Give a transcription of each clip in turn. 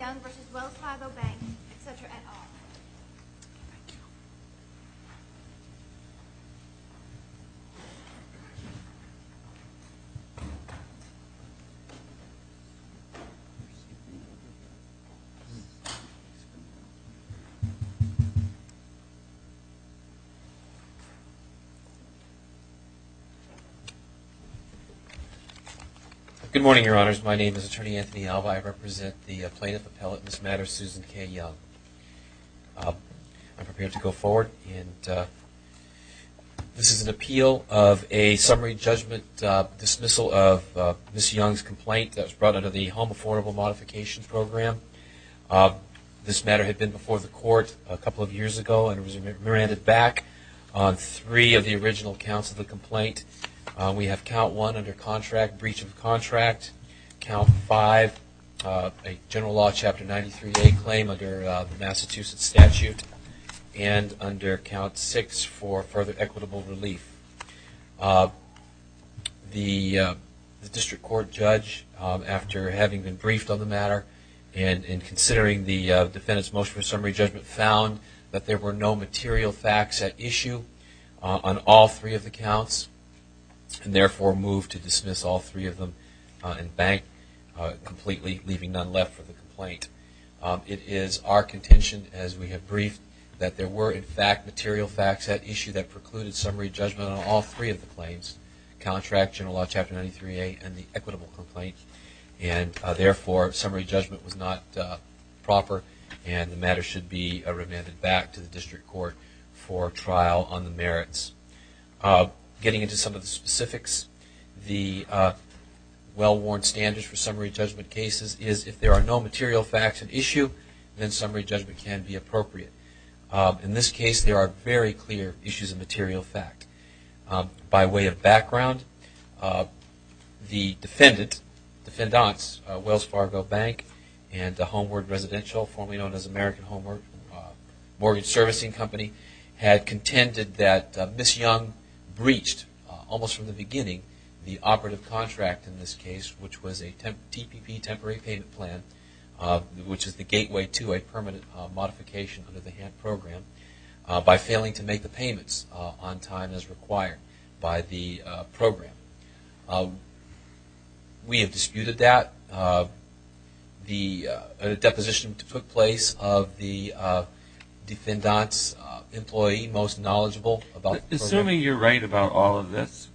Young v. Wells Fargo Bank, etc. et al. Good morning, Your Honors. My name is Attorney Anthony Alva. I represent the Plaintiff Appellate in this matter, Susan K. Young. I'm prepared to go forward. This is an appeal of a summary judgment dismissal of Ms. Young's complaint that was brought under the Home Affordable Modification Program. This matter had been before the Court a couple of years ago and was remanded back on three of the original counts of the complaint. We have Count 1 under contract, breach of contract. Count 5, a general law Chapter 93A claim under the Massachusetts statute. And under Count 6, for further equitable relief. The District Court judge, after having been briefed on the matter and considering the defendant's motion for summary judgment, found that there were no material facts at issue on all three of the counts and therefore moved to dismiss all three of them and bank completely, leaving none left for the complaint. It is our contention, as we have briefed, that there were, in fact, material facts at issue that precluded summary judgment on all three of the claims, contract, general law Chapter 93A, and the equitable complaint. And therefore, summary judgment was not proper and the matter should be remanded back to the District Court for trial on the merits. Getting into some of the specifics, the well-worn standards for summary judgment cases is if there are no material facts at issue, then summary judgment can be appropriate. In this case, there are very clear issues of material fact. By way of background, the defendants, Wells Fargo Bank and Homeward Residential, formerly known as American Homeward Mortgage Servicing Company, had contended that Ms. Young breached, almost from the beginning, the operative contract in this case, which was a TPP, Temporary Payment Plan, which is the gateway to a permanent modification under the HANT program, by failing to make the payments on time as required by the program. We have disputed that. A deposition took place of the defendants' employee most knowledgeable about the program. Assuming you're right about all of this,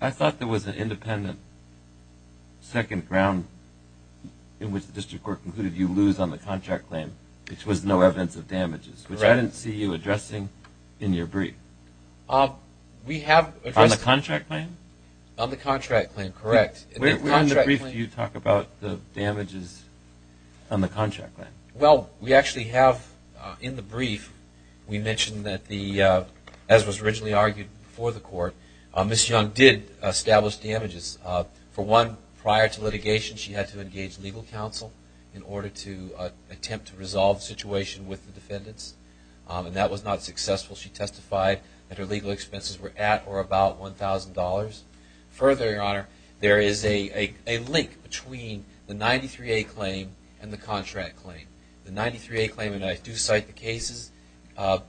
I thought there was an independent second ground in which the District Court concluded you lose on the contract claim, which was no evidence of damages, which I didn't see you addressing in your brief. On the contract claim? On the contract claim, correct. Where in the brief do you talk about the damages on the contract claim? Well, we actually have, in the brief, we mentioned that, as was originally argued before the court, Ms. Young did establish damages. For one, prior to litigation, she had to engage legal counsel in order to attempt to resolve the situation with the defendants, and that was not successful. She testified that her legal expenses were at or about $1,000. Further, Your Honor, there is a link between the 93A claim and the contract claim. The 93A claim, and I do cite the cases,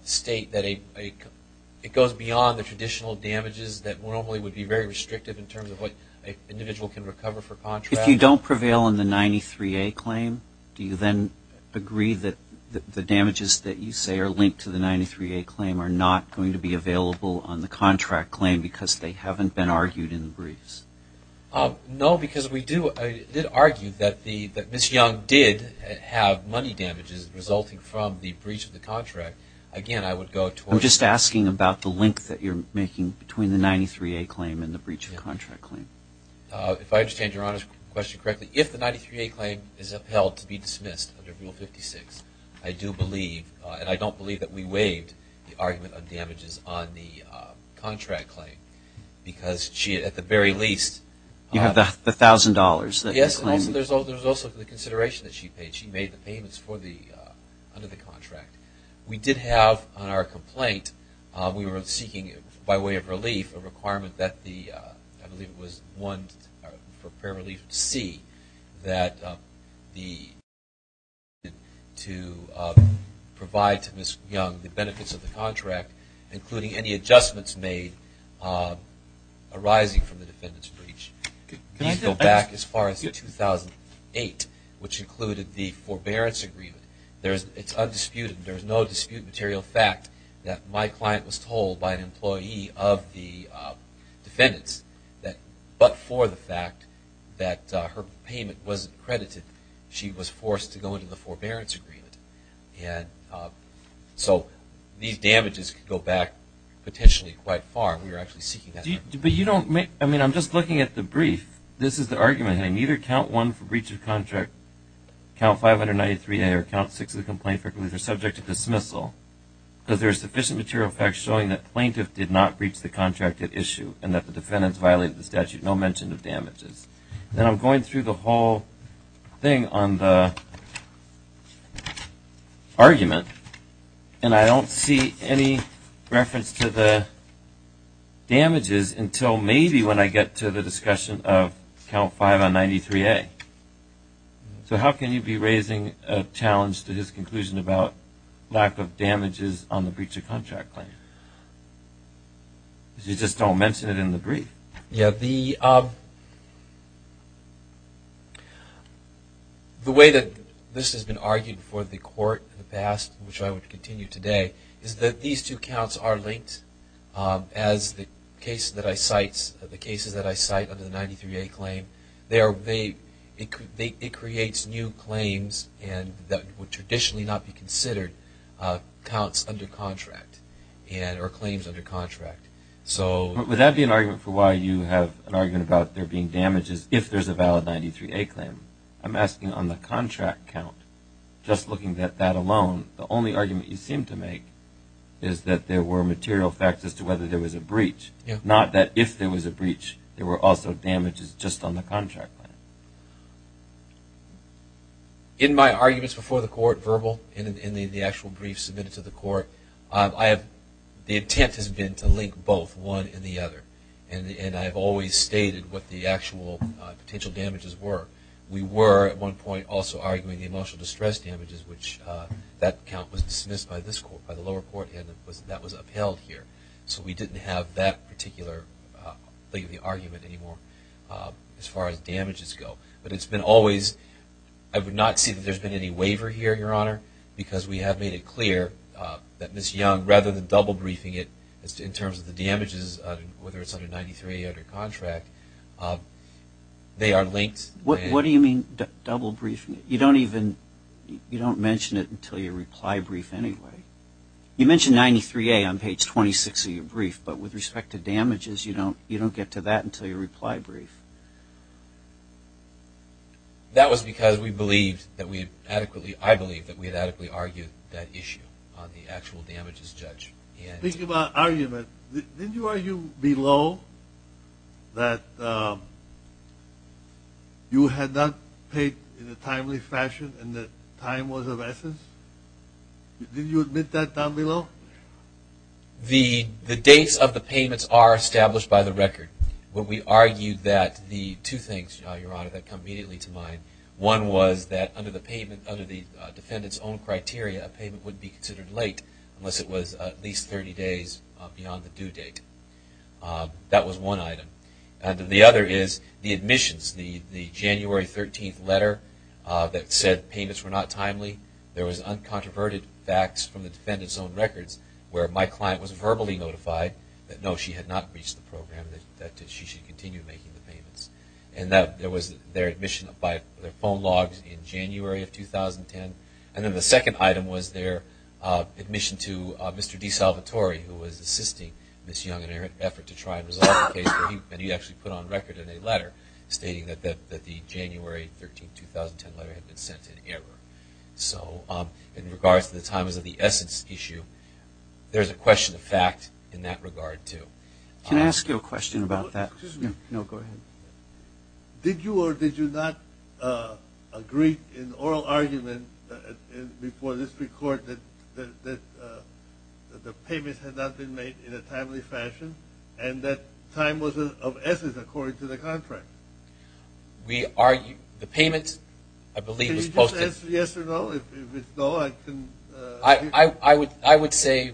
state that it goes beyond the traditional damages that normally would be very restrictive in terms of what an individual can recover for contract. If you don't prevail on the 93A claim, do you then agree that the damages that you say are linked to the 93A claim are not going to be available on the contract claim because they haven't been argued in the briefs? No, because we did argue that Ms. Young did have money damages resulting from the breach of the contract. Again, I would go towards that. I'm just asking about the link that you're making between the 93A claim and the breach of the contract claim. If I understand Your Honor's question correctly, if the 93A claim is upheld to be dismissed under Rule 56, I do believe, and I don't believe that we waived the argument on damages on the contract claim because she at the very least You have the $1,000 that you're claiming. Yes, and there's also the consideration that she paid. She made the payments under the contract. We did have on our complaint, we were seeking by way of relief, a requirement that the, I believe it was one for prayer relief C, that the client be permitted to provide to Ms. Young the benefits of the contract, including any adjustments made arising from the defendant's breach. Can you go back as far as 2008, which included the forbearance agreement? It's undisputed. There's no disputed material fact that my client was told by an employee of the defendant's that, but for the fact that her payment wasn't credited, she was forced to go into the forbearance agreement. And so these damages could go back potentially quite far. We were actually seeking that. But you don't make, I mean, I'm just looking at the brief. This is the argument. Neither count one for breach of contract, count 593A, or count six of the complaint for relief are subject to dismissal, because there's sufficient material facts showing that plaintiff did not breach the contract at issue and that the defendant's violated the statute, no mention of damages. And I'm going through the whole thing on the argument, and I don't see any reference to the damages until maybe when I get to the discussion of count five on 93A. So how can you be raising a challenge to his conclusion about lack of damages on the breach of contract claim? Because you just don't mention it in the brief. The way that this has been argued for the court in the past, which I would continue today, is that these two counts are linked as the cases that I cite under the 93A claim. It creates new claims that would traditionally not be considered counts under contract or claims under contract. Would that be an argument for why you have an argument about there being damages if there's a valid 93A claim? I'm asking on the contract count. Just looking at that alone, the only argument you seem to make is that there were material facts as to whether there was a breach. Not that if there was a breach, there were also damages just on the contract. In my arguments before the court, verbal, in the actual brief submitted to the court, the intent has been to link both, one and the other. And I have always stated what the actual potential damages were. We were at one point also arguing the emotional distress damages, which that count was dismissed by the lower court and that was upheld here. So we didn't have that particular argument anymore as far as damages go. But it's been always, I would not see that there's been any waiver here, Your Honor, because we have made it clear that Ms. Young, rather than double briefing it in terms of the damages, whether it's under 93A or the contract, they are linked. What do you mean double briefing? You don't even, you don't mention it until your reply brief anyway. You mention 93A on page 26 of your brief, but with respect to damages, you don't get to that until your reply brief. That was because we believed that we had adequately, I believe that we had adequately argued that issue on the actual damages judge. Speaking about argument, didn't you argue below that you had not paid in a timely fashion and that time was of essence? Didn't you admit that down below? The dates of the payments are established by the record. What we argued that the two things, Your Honor, that come immediately to mind, one was that under the defendant's own criteria, a payment would be considered late unless it was at least 30 days beyond the due date. That was one item. The other is the admissions, the January 13th letter that said payments were not timely. There was uncontroverted facts from the defendant's own records where my client was verbally notified that, no, she had not reached the program, that she should continue making the payments. There was their admission by their phone logs in January of 2010. And then the second item was their admission to Mr. DeSalvatore, who was assisting Ms. Young in her effort to try and resolve the case, and he actually put on record in a letter stating that the January 13th, 2010 letter had been sent in error. So in regards to the times of the essence issue, there's a question of fact in that regard, too. Can I ask you a question about that? No, go ahead. Did you or did you not agree in oral argument before this report that the payments had not been made in a timely fashion and that time was of essence according to the contract? The payment, I believe, was posted. Can you just answer yes or no? I would say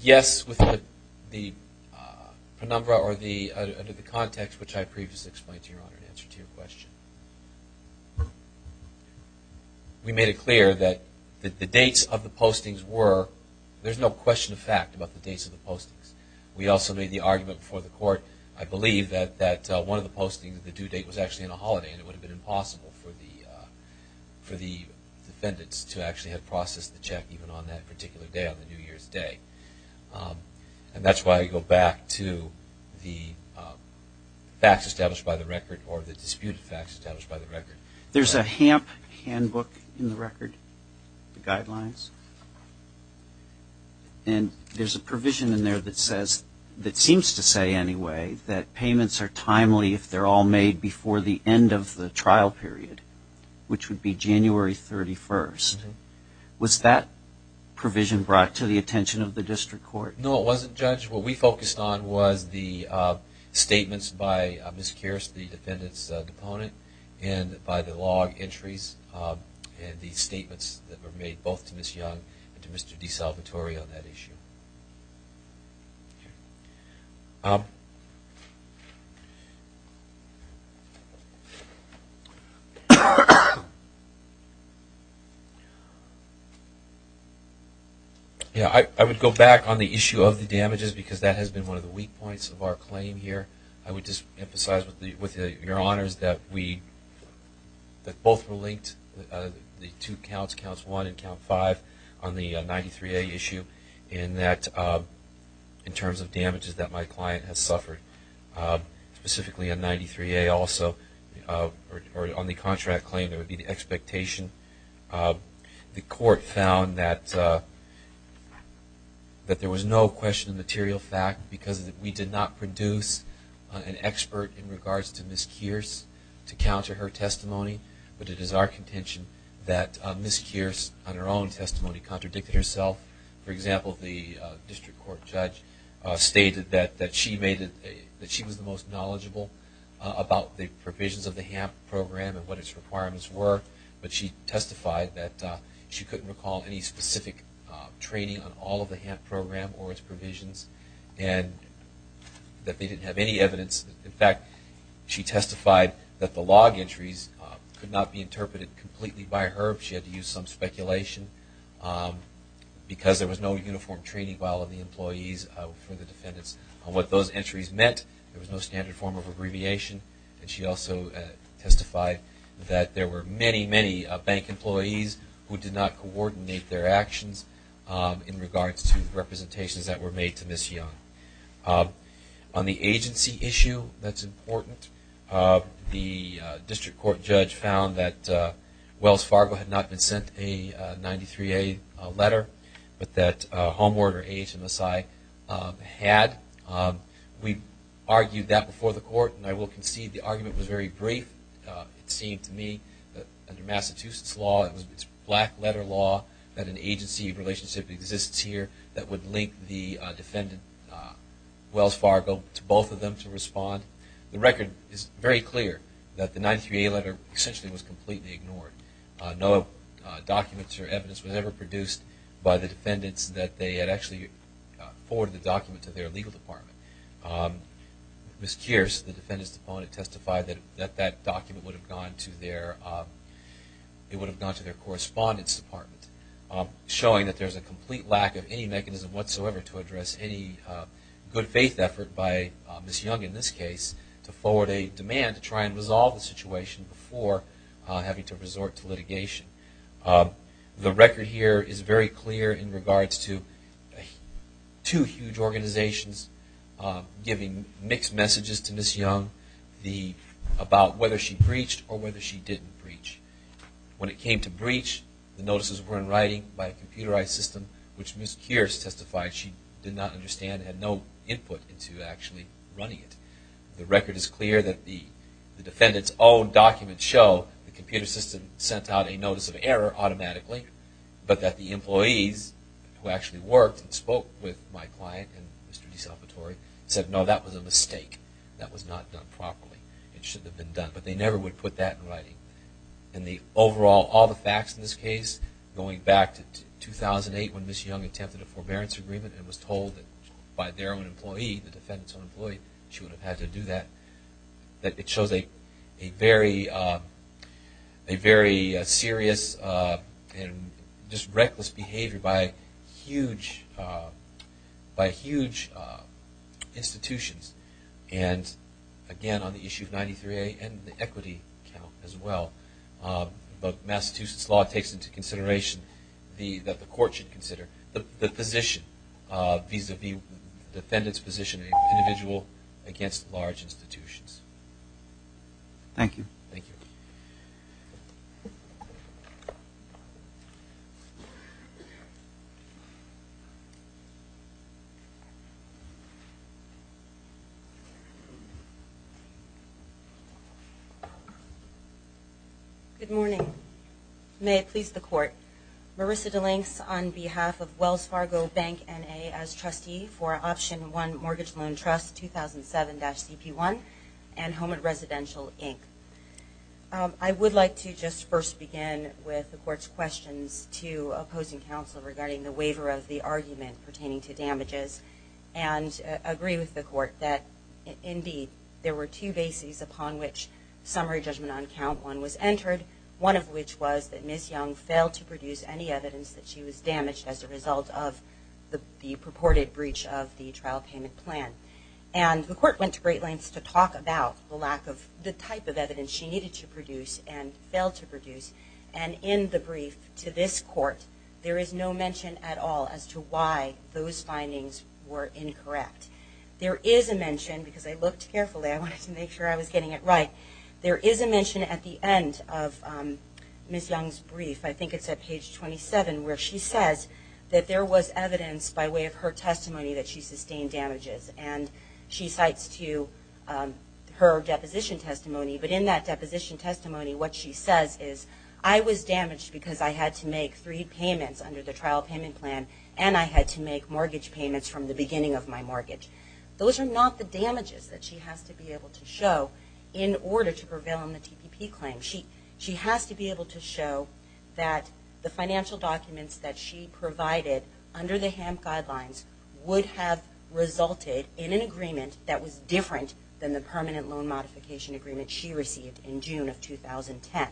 yes under the context which I previously explained to Your Honor in answer to your question. We made it clear that the dates of the postings were, there's no question of fact about the dates of the postings. We also made the argument before the court, I believe, that one of the postings of the due date was actually on a holiday, and it would have been impossible for the defendants to actually have processed the check even on that particular day, on the New Year's Day. And that's why I go back to the facts established by the record or the disputed facts established by the record. There's a HAMP handbook in the record, the guidelines, and there's a provision in there that says, that seems to say anyway, that payments are timely if they're all made before the end of the trial period, which would be January 31st. Was that provision brought to the attention of the district court? No, it wasn't, Judge. What we focused on was the statements by Ms. Kearse, the defendant's opponent, and by the log entries and the statements that were made both to Ms. Young and to Mr. DeSalvatore on that issue. I would go back on the issue of the damages because that has been one of the weak points of our claim here. I would just emphasize with your honors that we, that both were linked, the two counts, Counts 1 and Count 5 on the 93A issue in that, in terms of damages that my client has suffered, specifically on 93A also, or on the contract claim, there would be the expectation. The court found that there was no question of material fact because we did not produce an expert in regards to Ms. Kearse to counter her testimony, but it is our contention that Ms. Kearse, on her own testimony, contradicted herself. For example, the district court judge stated that she was the most knowledgeable about the provisions of the HAMP program and what its requirements were, but she testified that she couldn't recall any specific training on all of the HAMP program or its provisions and that they didn't have any evidence. In fact, she testified that the log entries could not be interpreted completely by her. She had to use some speculation because there was no uniform training by all of the employees for the defendants on what those entries meant. There was no standard form of abbreviation, and she also testified that there were many, many bank employees who did not coordinate their actions in regards to representations that were made to Ms. Young. On the agency issue that's important, the district court judge found that Wells Fargo had not been sent a 93A letter, but that Home Order, AHMSI, had. We argued that before the court, and I will concede the argument was very brief. It seemed to me that under Massachusetts law, it was black letter law that an agency relationship exists here that would link the defendant, Wells Fargo, to both of them to respond. The record is very clear that the 93A letter essentially was completely ignored. No documents or evidence was ever produced by the defendants that they had actually forwarded the document to their legal department. Ms. Kearse, the defendant's opponent, testified that that document would have gone to their correspondence department, showing that there's a complete lack of any mechanism whatsoever to address any good faith effort by Ms. Young in this case to forward a demand to try and resolve the situation before having to resort to litigation. The record here is very clear in regards to two huge organizations giving mixed messages to Ms. Young about whether she breached or whether she didn't breach. When it came to breach, the notices were in writing by a computerized system, which Ms. Kearse testified she did not understand and had no input into actually running it. The record is clear that the defendant's own documents show the computer system sent out a notice of error automatically, but that the employees who actually worked and spoke with my client and Mr. DeSalvatore said, no, that was a mistake. That was not done properly. It shouldn't have been done. But they never would put that in writing. Overall, all the facts in this case, going back to 2008 when Ms. Young attempted a forbearance agreement and was told by their own employee, the defendant's own employee, she would have had to do that, that it shows a very serious and just reckless behavior by huge institutions. And again, on the issue of 93A and the equity count as well, Massachusetts law takes into consideration that the court should consider the position, vis-a-vis the defendant's position as an individual against large institutions. Thank you. Thank you. Good morning. May it please the court. Marissa DeLinks on behalf of Wells Fargo Bank N.A. as trustee for Option 1 Mortgage Loan Trust 2007-CP1 and Home and Residential, Inc. I would like to just first begin with the court's questions to opposing counsel regarding the waiver of the argument pertaining to damages and agree with the court that, indeed, there were two bases upon which summary judgment on count one was entered, one of which was that Ms. Young failed to produce any evidence that she was damaged as a result of the purported breach of the trial payment plan. And the court went to great lengths to talk about the lack of, the type of evidence she needed to produce and failed to produce. And in the brief to this court, there is no mention at all as to why those findings were incorrect. There is a mention, because I looked carefully, I wanted to make sure I was getting it right, there is a mention at the end of Ms. Young's brief, I think it's at page 27, where she says that there was evidence by way of her testimony that she sustained damages. And she cites to her deposition testimony. But in that deposition testimony, what she says is, I was damaged because I had to make three payments under the trial payment plan and I had to make mortgage payments from the beginning of my mortgage. Those are not the damages that she has to be able to show in order to prevail on the TPP claim. She has to be able to show that the financial documents that she provided under the HAMP guidelines would have resulted in an agreement that was different than the permanent loan modification agreement she received in June of 2010.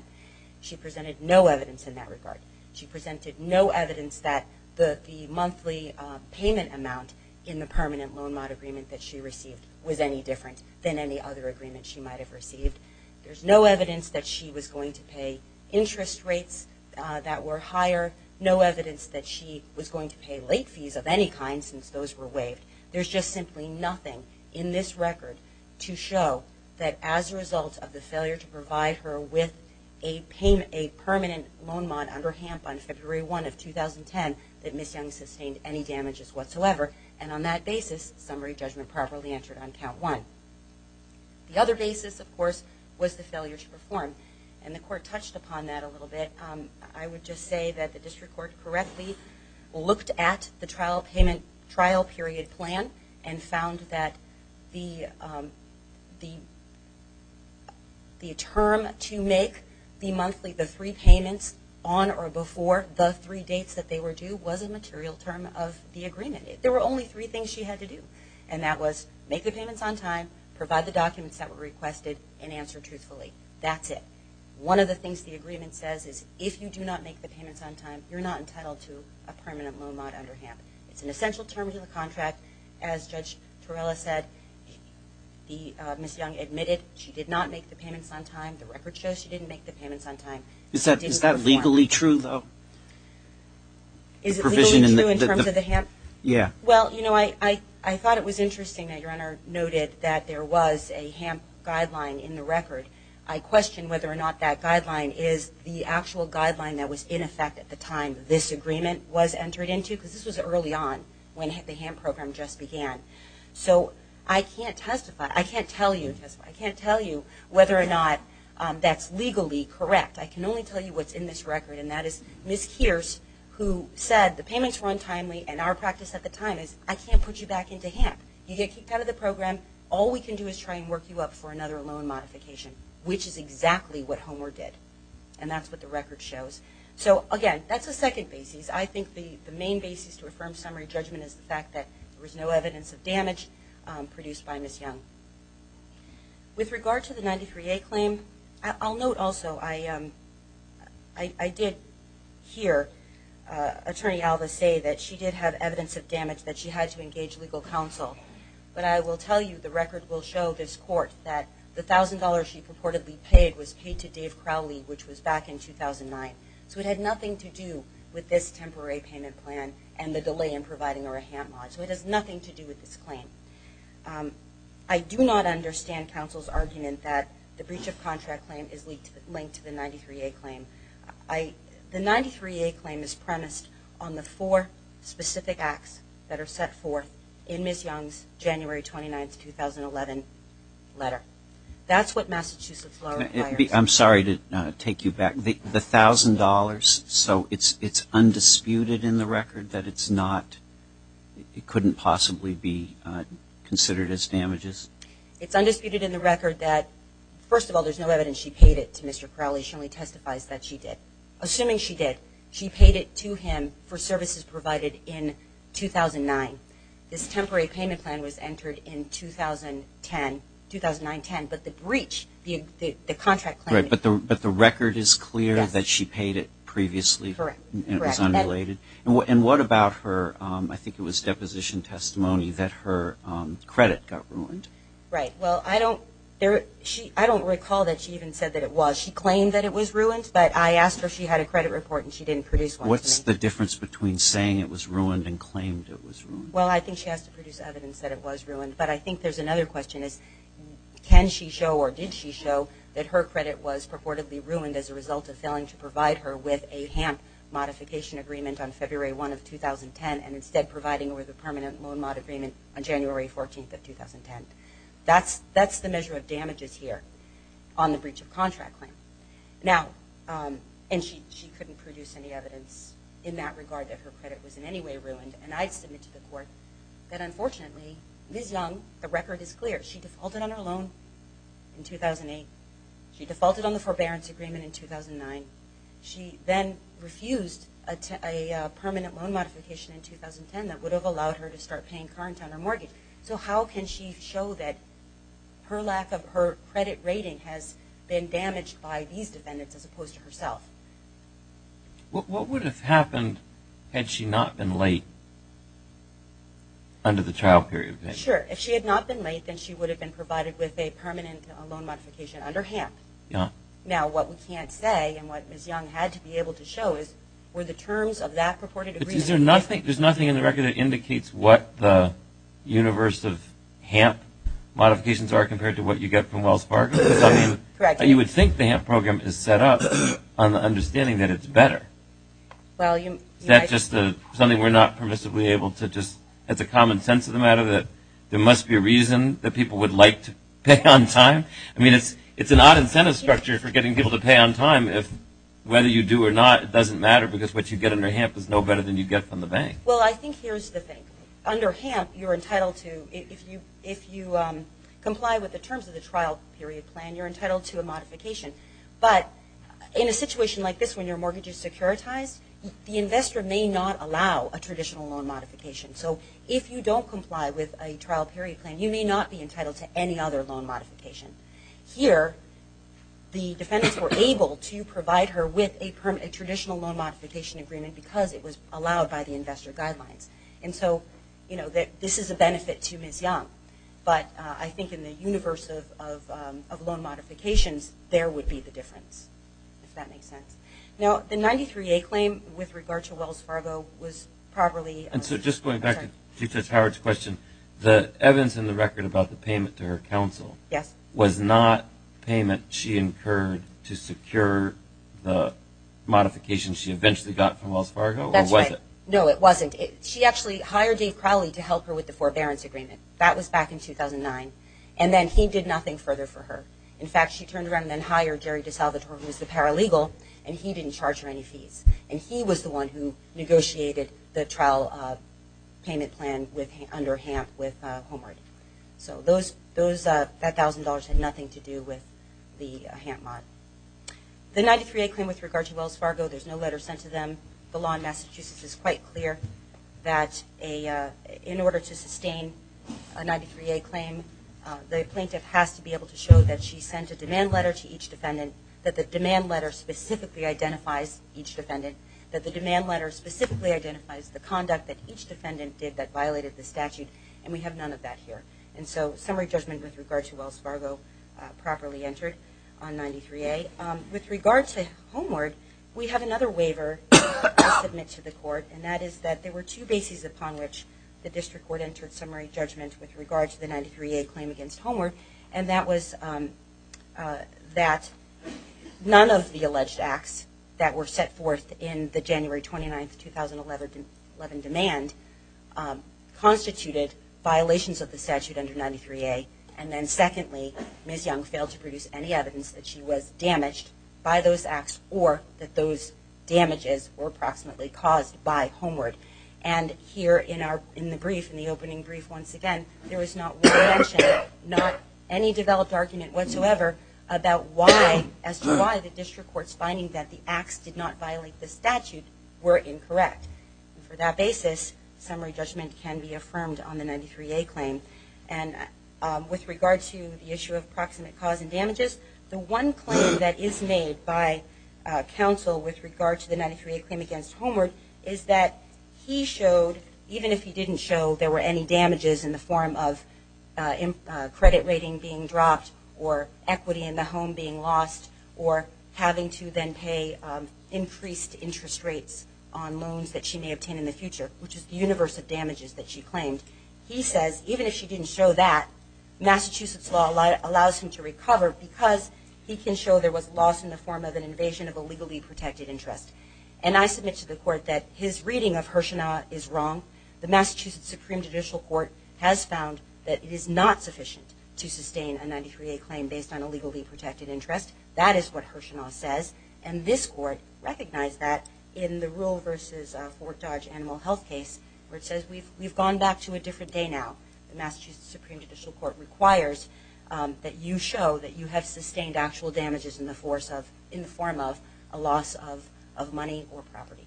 She presented no evidence in that regard. She presented no evidence that the monthly payment amount in the permanent loan mod agreement that she received was any different than any other agreement she might have received. There is no evidence that she was going to pay interest rates that were higher, no evidence that she was going to pay late fees of any kind since those were waived. There is just simply nothing in this record to show that as a result of the failure to provide her with a permanent loan mod under HAMP on February 1 of 2010, that Ms. Young sustained any damages whatsoever. And on that basis, summary judgment properly entered on count one. The other basis, of course, was the failure to perform. And the court touched upon that a little bit. I would just say that the district court correctly looked at the trial period plan and found that the term to make the three payments on or before the three dates that they were due was a material term of the agreement. There were only three things she had to do, and that was make the payments on time, provide the documents that were requested, and answer truthfully. That's it. One of the things the agreement says is if you do not make the payments on time, you're not entitled to a permanent loan mod under HAMP. It's an essential term to the contract. As Judge Torella said, Ms. Young admitted she did not make the payments on time. The record shows she didn't make the payments on time. Is that legally true, though? Is it legally true in terms of the HAMP? Yeah. Well, you know, I thought it was interesting that Your Honor noted that there was a HAMP guideline in the record. I question whether or not that guideline is the actual guideline that was in effect at the time this agreement was entered into because this was early on when the HAMP program just began. So I can't tell you whether or not that's legally correct. I can only tell you what's in this record, and that is Ms. Kearse, who said the payments were untimely and our practice at the time is I can't put you back into HAMP. You get kicked out of the program. All we can do is try and work you up for another loan modification, which is exactly what Homer did, and that's what the record shows. So, again, that's a second basis. I think the main basis to affirm summary judgment is the fact that there was no evidence of damage produced by Ms. Young. With regard to the 93A claim, I'll note also I did hear Attorney Alva say that she did have evidence of damage, that she had to engage legal counsel. But I will tell you the record will show this court that the $1,000 she purportedly paid was paid to Dave Crowley, which was back in 2009. So it had nothing to do with this temporary payment plan and the delay in providing her a HAMP mod. So it has nothing to do with this claim. I do not understand counsel's argument that the breach of contract claim is linked to the 93A claim. The 93A claim is premised on the four specific acts that are set forth in Ms. Young's January 29, 2011, letter. That's what Massachusetts Law requires. I'm sorry to take you back. The $1,000, so it's undisputed in the record that it's not, it couldn't possibly be considered as damages? It's undisputed in the record that, first of all, there's no evidence she paid it to Mr. Crowley. She only testifies that she did. Assuming she did, she paid it to him for services provided in 2009. This temporary payment plan was entered in 2010, 2009-10, but the breach, the contract claim. But the record is clear that she paid it previously? Correct. And it was unrelated? Correct. And what about her, I think it was deposition testimony, that her credit got ruined? Right. Well, I don't recall that she even said that it was. She claimed that it was ruined, but I asked her if she had a credit report and she didn't produce one for me. What's the difference between saying it was ruined and claimed it was ruined? Well, I think she has to produce evidence that it was ruined, but I think there's another question. Can she show or did she show that her credit was purportedly ruined as a result of failing to provide her with a HAMP modification agreement on February 1 of 2010 and instead providing her with a permanent loan mod agreement on January 14 of 2010? That's the measure of damages here on the breach of contract claim. And she couldn't produce any evidence in that regard that her credit was in any way ruined. And I'd submit to the court that, unfortunately, Ms. Young, the record is clear. She defaulted on her loan in 2008. She defaulted on the forbearance agreement in 2009. She then refused a permanent loan modification in 2010 that would have allowed her to start paying current on her mortgage. So how can she show that her lack of her credit rating has been damaged by these defendants as opposed to herself? What would have happened had she not been late under the trial period? Sure. If she had not been late, then she would have been provided with a permanent loan modification under HAMP. Now, what we can't say and what Ms. Young had to be able to show is were the terms of that purported agreement There's nothing in the record that indicates what the universe of HAMP modifications are compared to what you get from Wells Fargo. You would think the HAMP program is set up on the understanding that it's better. Is that just something we're not permissibly able to just, it's a common sense of the matter that there must be a reason that people would like to pay on time? I mean, it's an odd incentive structure for getting people to pay on time. Whether you do or not, it doesn't matter because what you get under HAMP is no better than you get from the bank. Well, I think here's the thing. Under HAMP, you're entitled to, if you comply with the terms of the trial period plan, you're entitled to a modification. But in a situation like this when your mortgage is securitized, the investor may not allow a traditional loan modification. So if you don't comply with a trial period plan, you may not be entitled to any other loan modification. Here, the defendants were able to provide her with a traditional loan modification agreement because it was allowed by the investor guidelines. And so this is a benefit to Ms. Young. But I think in the universe of loan modifications, there would be the difference, if that makes sense. Now, the 93A claim with regard to Wells Fargo was probably- And so just going back to Justice Howard's question, the evidence in the record about the payment to her counsel- Yes. Was not payment she incurred to secure the modification she eventually got from Wells Fargo? That's right. Or was it? No, it wasn't. She actually hired Dave Crowley to help her with the forbearance agreement. That was back in 2009. And then he did nothing further for her. In fact, she turned around and hired Jerry DeSalvatore, who was the paralegal, and he didn't charge her any fees. And he was the one who negotiated the trial payment plan under HAMP with Homeward. So that $1,000 had nothing to do with the HAMP mod. The 93A claim with regard to Wells Fargo, there's no letter sent to them. The law in Massachusetts is quite clear that in order to sustain a 93A claim, the plaintiff has to be able to show that she sent a demand letter to each defendant, that the demand letter specifically identifies each defendant, that the demand letter specifically identifies the conduct that each defendant did that violated the statute, and we have none of that here. And so summary judgment with regard to Wells Fargo properly entered on 93A. With regard to Homeward, we have another waiver to submit to the court, and that is that there were two bases upon which the district court entered summary judgment with regard to the 93A claim against Homeward, and that was that none of the alleged acts that were set forth in the January 29, 2011 demand constituted violations of the statute under 93A, and then secondly, Ms. Young failed to produce any evidence that she was damaged by those acts or that those damages were approximately caused by Homeward. And here in the brief, in the opening brief once again, there was not one mention, not any developed argument whatsoever, about why the district court's finding that the acts did not violate the statute were incorrect. For that basis, summary judgment can be affirmed on the 93A claim. And with regard to the issue of proximate cause and damages, the one claim that is made by counsel with regard to the 93A claim against Homeward is that he showed, even if he didn't show, there were any damages in the form of credit rating being dropped or equity in the home being lost or having to then pay increased interest rates on loans that she may obtain in the future, which is the universe of damages that she claimed. He says, even if she didn't show that, Massachusetts law allows him to recover because he can show there was loss in the form of an invasion of a legally protected interest. And I submit to the court that his reading of Hirshanaw is wrong. The Massachusetts Supreme Judicial Court has found that it is not sufficient to sustain a 93A claim based on a legally protected interest. That is what Hirshanaw says. And this court recognized that in the rural versus Fort Dodge animal health case, where it says we've gone back to a different day now. The Massachusetts Supreme Judicial Court requires that you show that you have sustained actual damages in the form of a loss of money or property.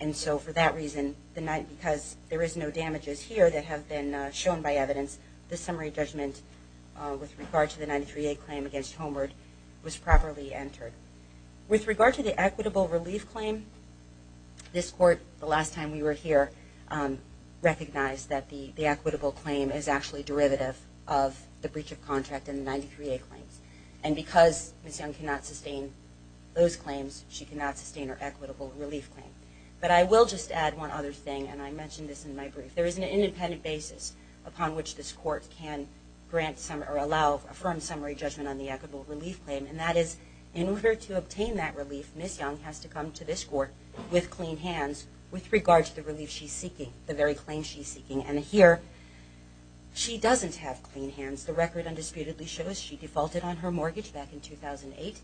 And so for that reason, because there is no damages here that have been shown by evidence, the summary judgment with regard to the 93A claim against Homeward was properly entered. With regard to the equitable relief claim, this court, the last time we were here, recognized that the equitable claim is actually derivative of the breach of contract in the 93A claims. And because Ms. Young cannot sustain those claims, she cannot sustain her equitable relief claim. But I will just add one other thing, and I mentioned this in my brief. There is an independent basis upon which this court can grant or allow a firm summary judgment on the equitable relief claim, and that is in order to obtain that relief, Ms. Young has to come to this court with clean hands with regard to the relief she's seeking, the very claim she's seeking. And here, she doesn't have clean hands. The record undisputedly shows she defaulted on her mortgage back in 2008.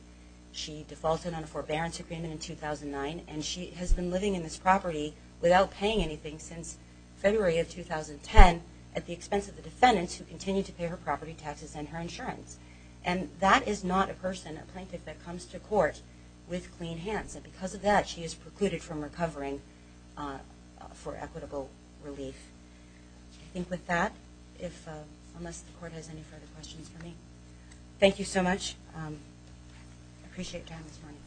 She defaulted on a forbearance agreement in 2009, and she has been living in this property without paying anything since February of 2010 at the expense of the defendants who continue to pay her property taxes and her insurance. And that is not a person, a plaintiff, that comes to court with clean hands. And because of that, she is precluded from recovering for equitable relief. I think with that, unless the court has any further questions for me. Thank you so much. I appreciate your time this morning.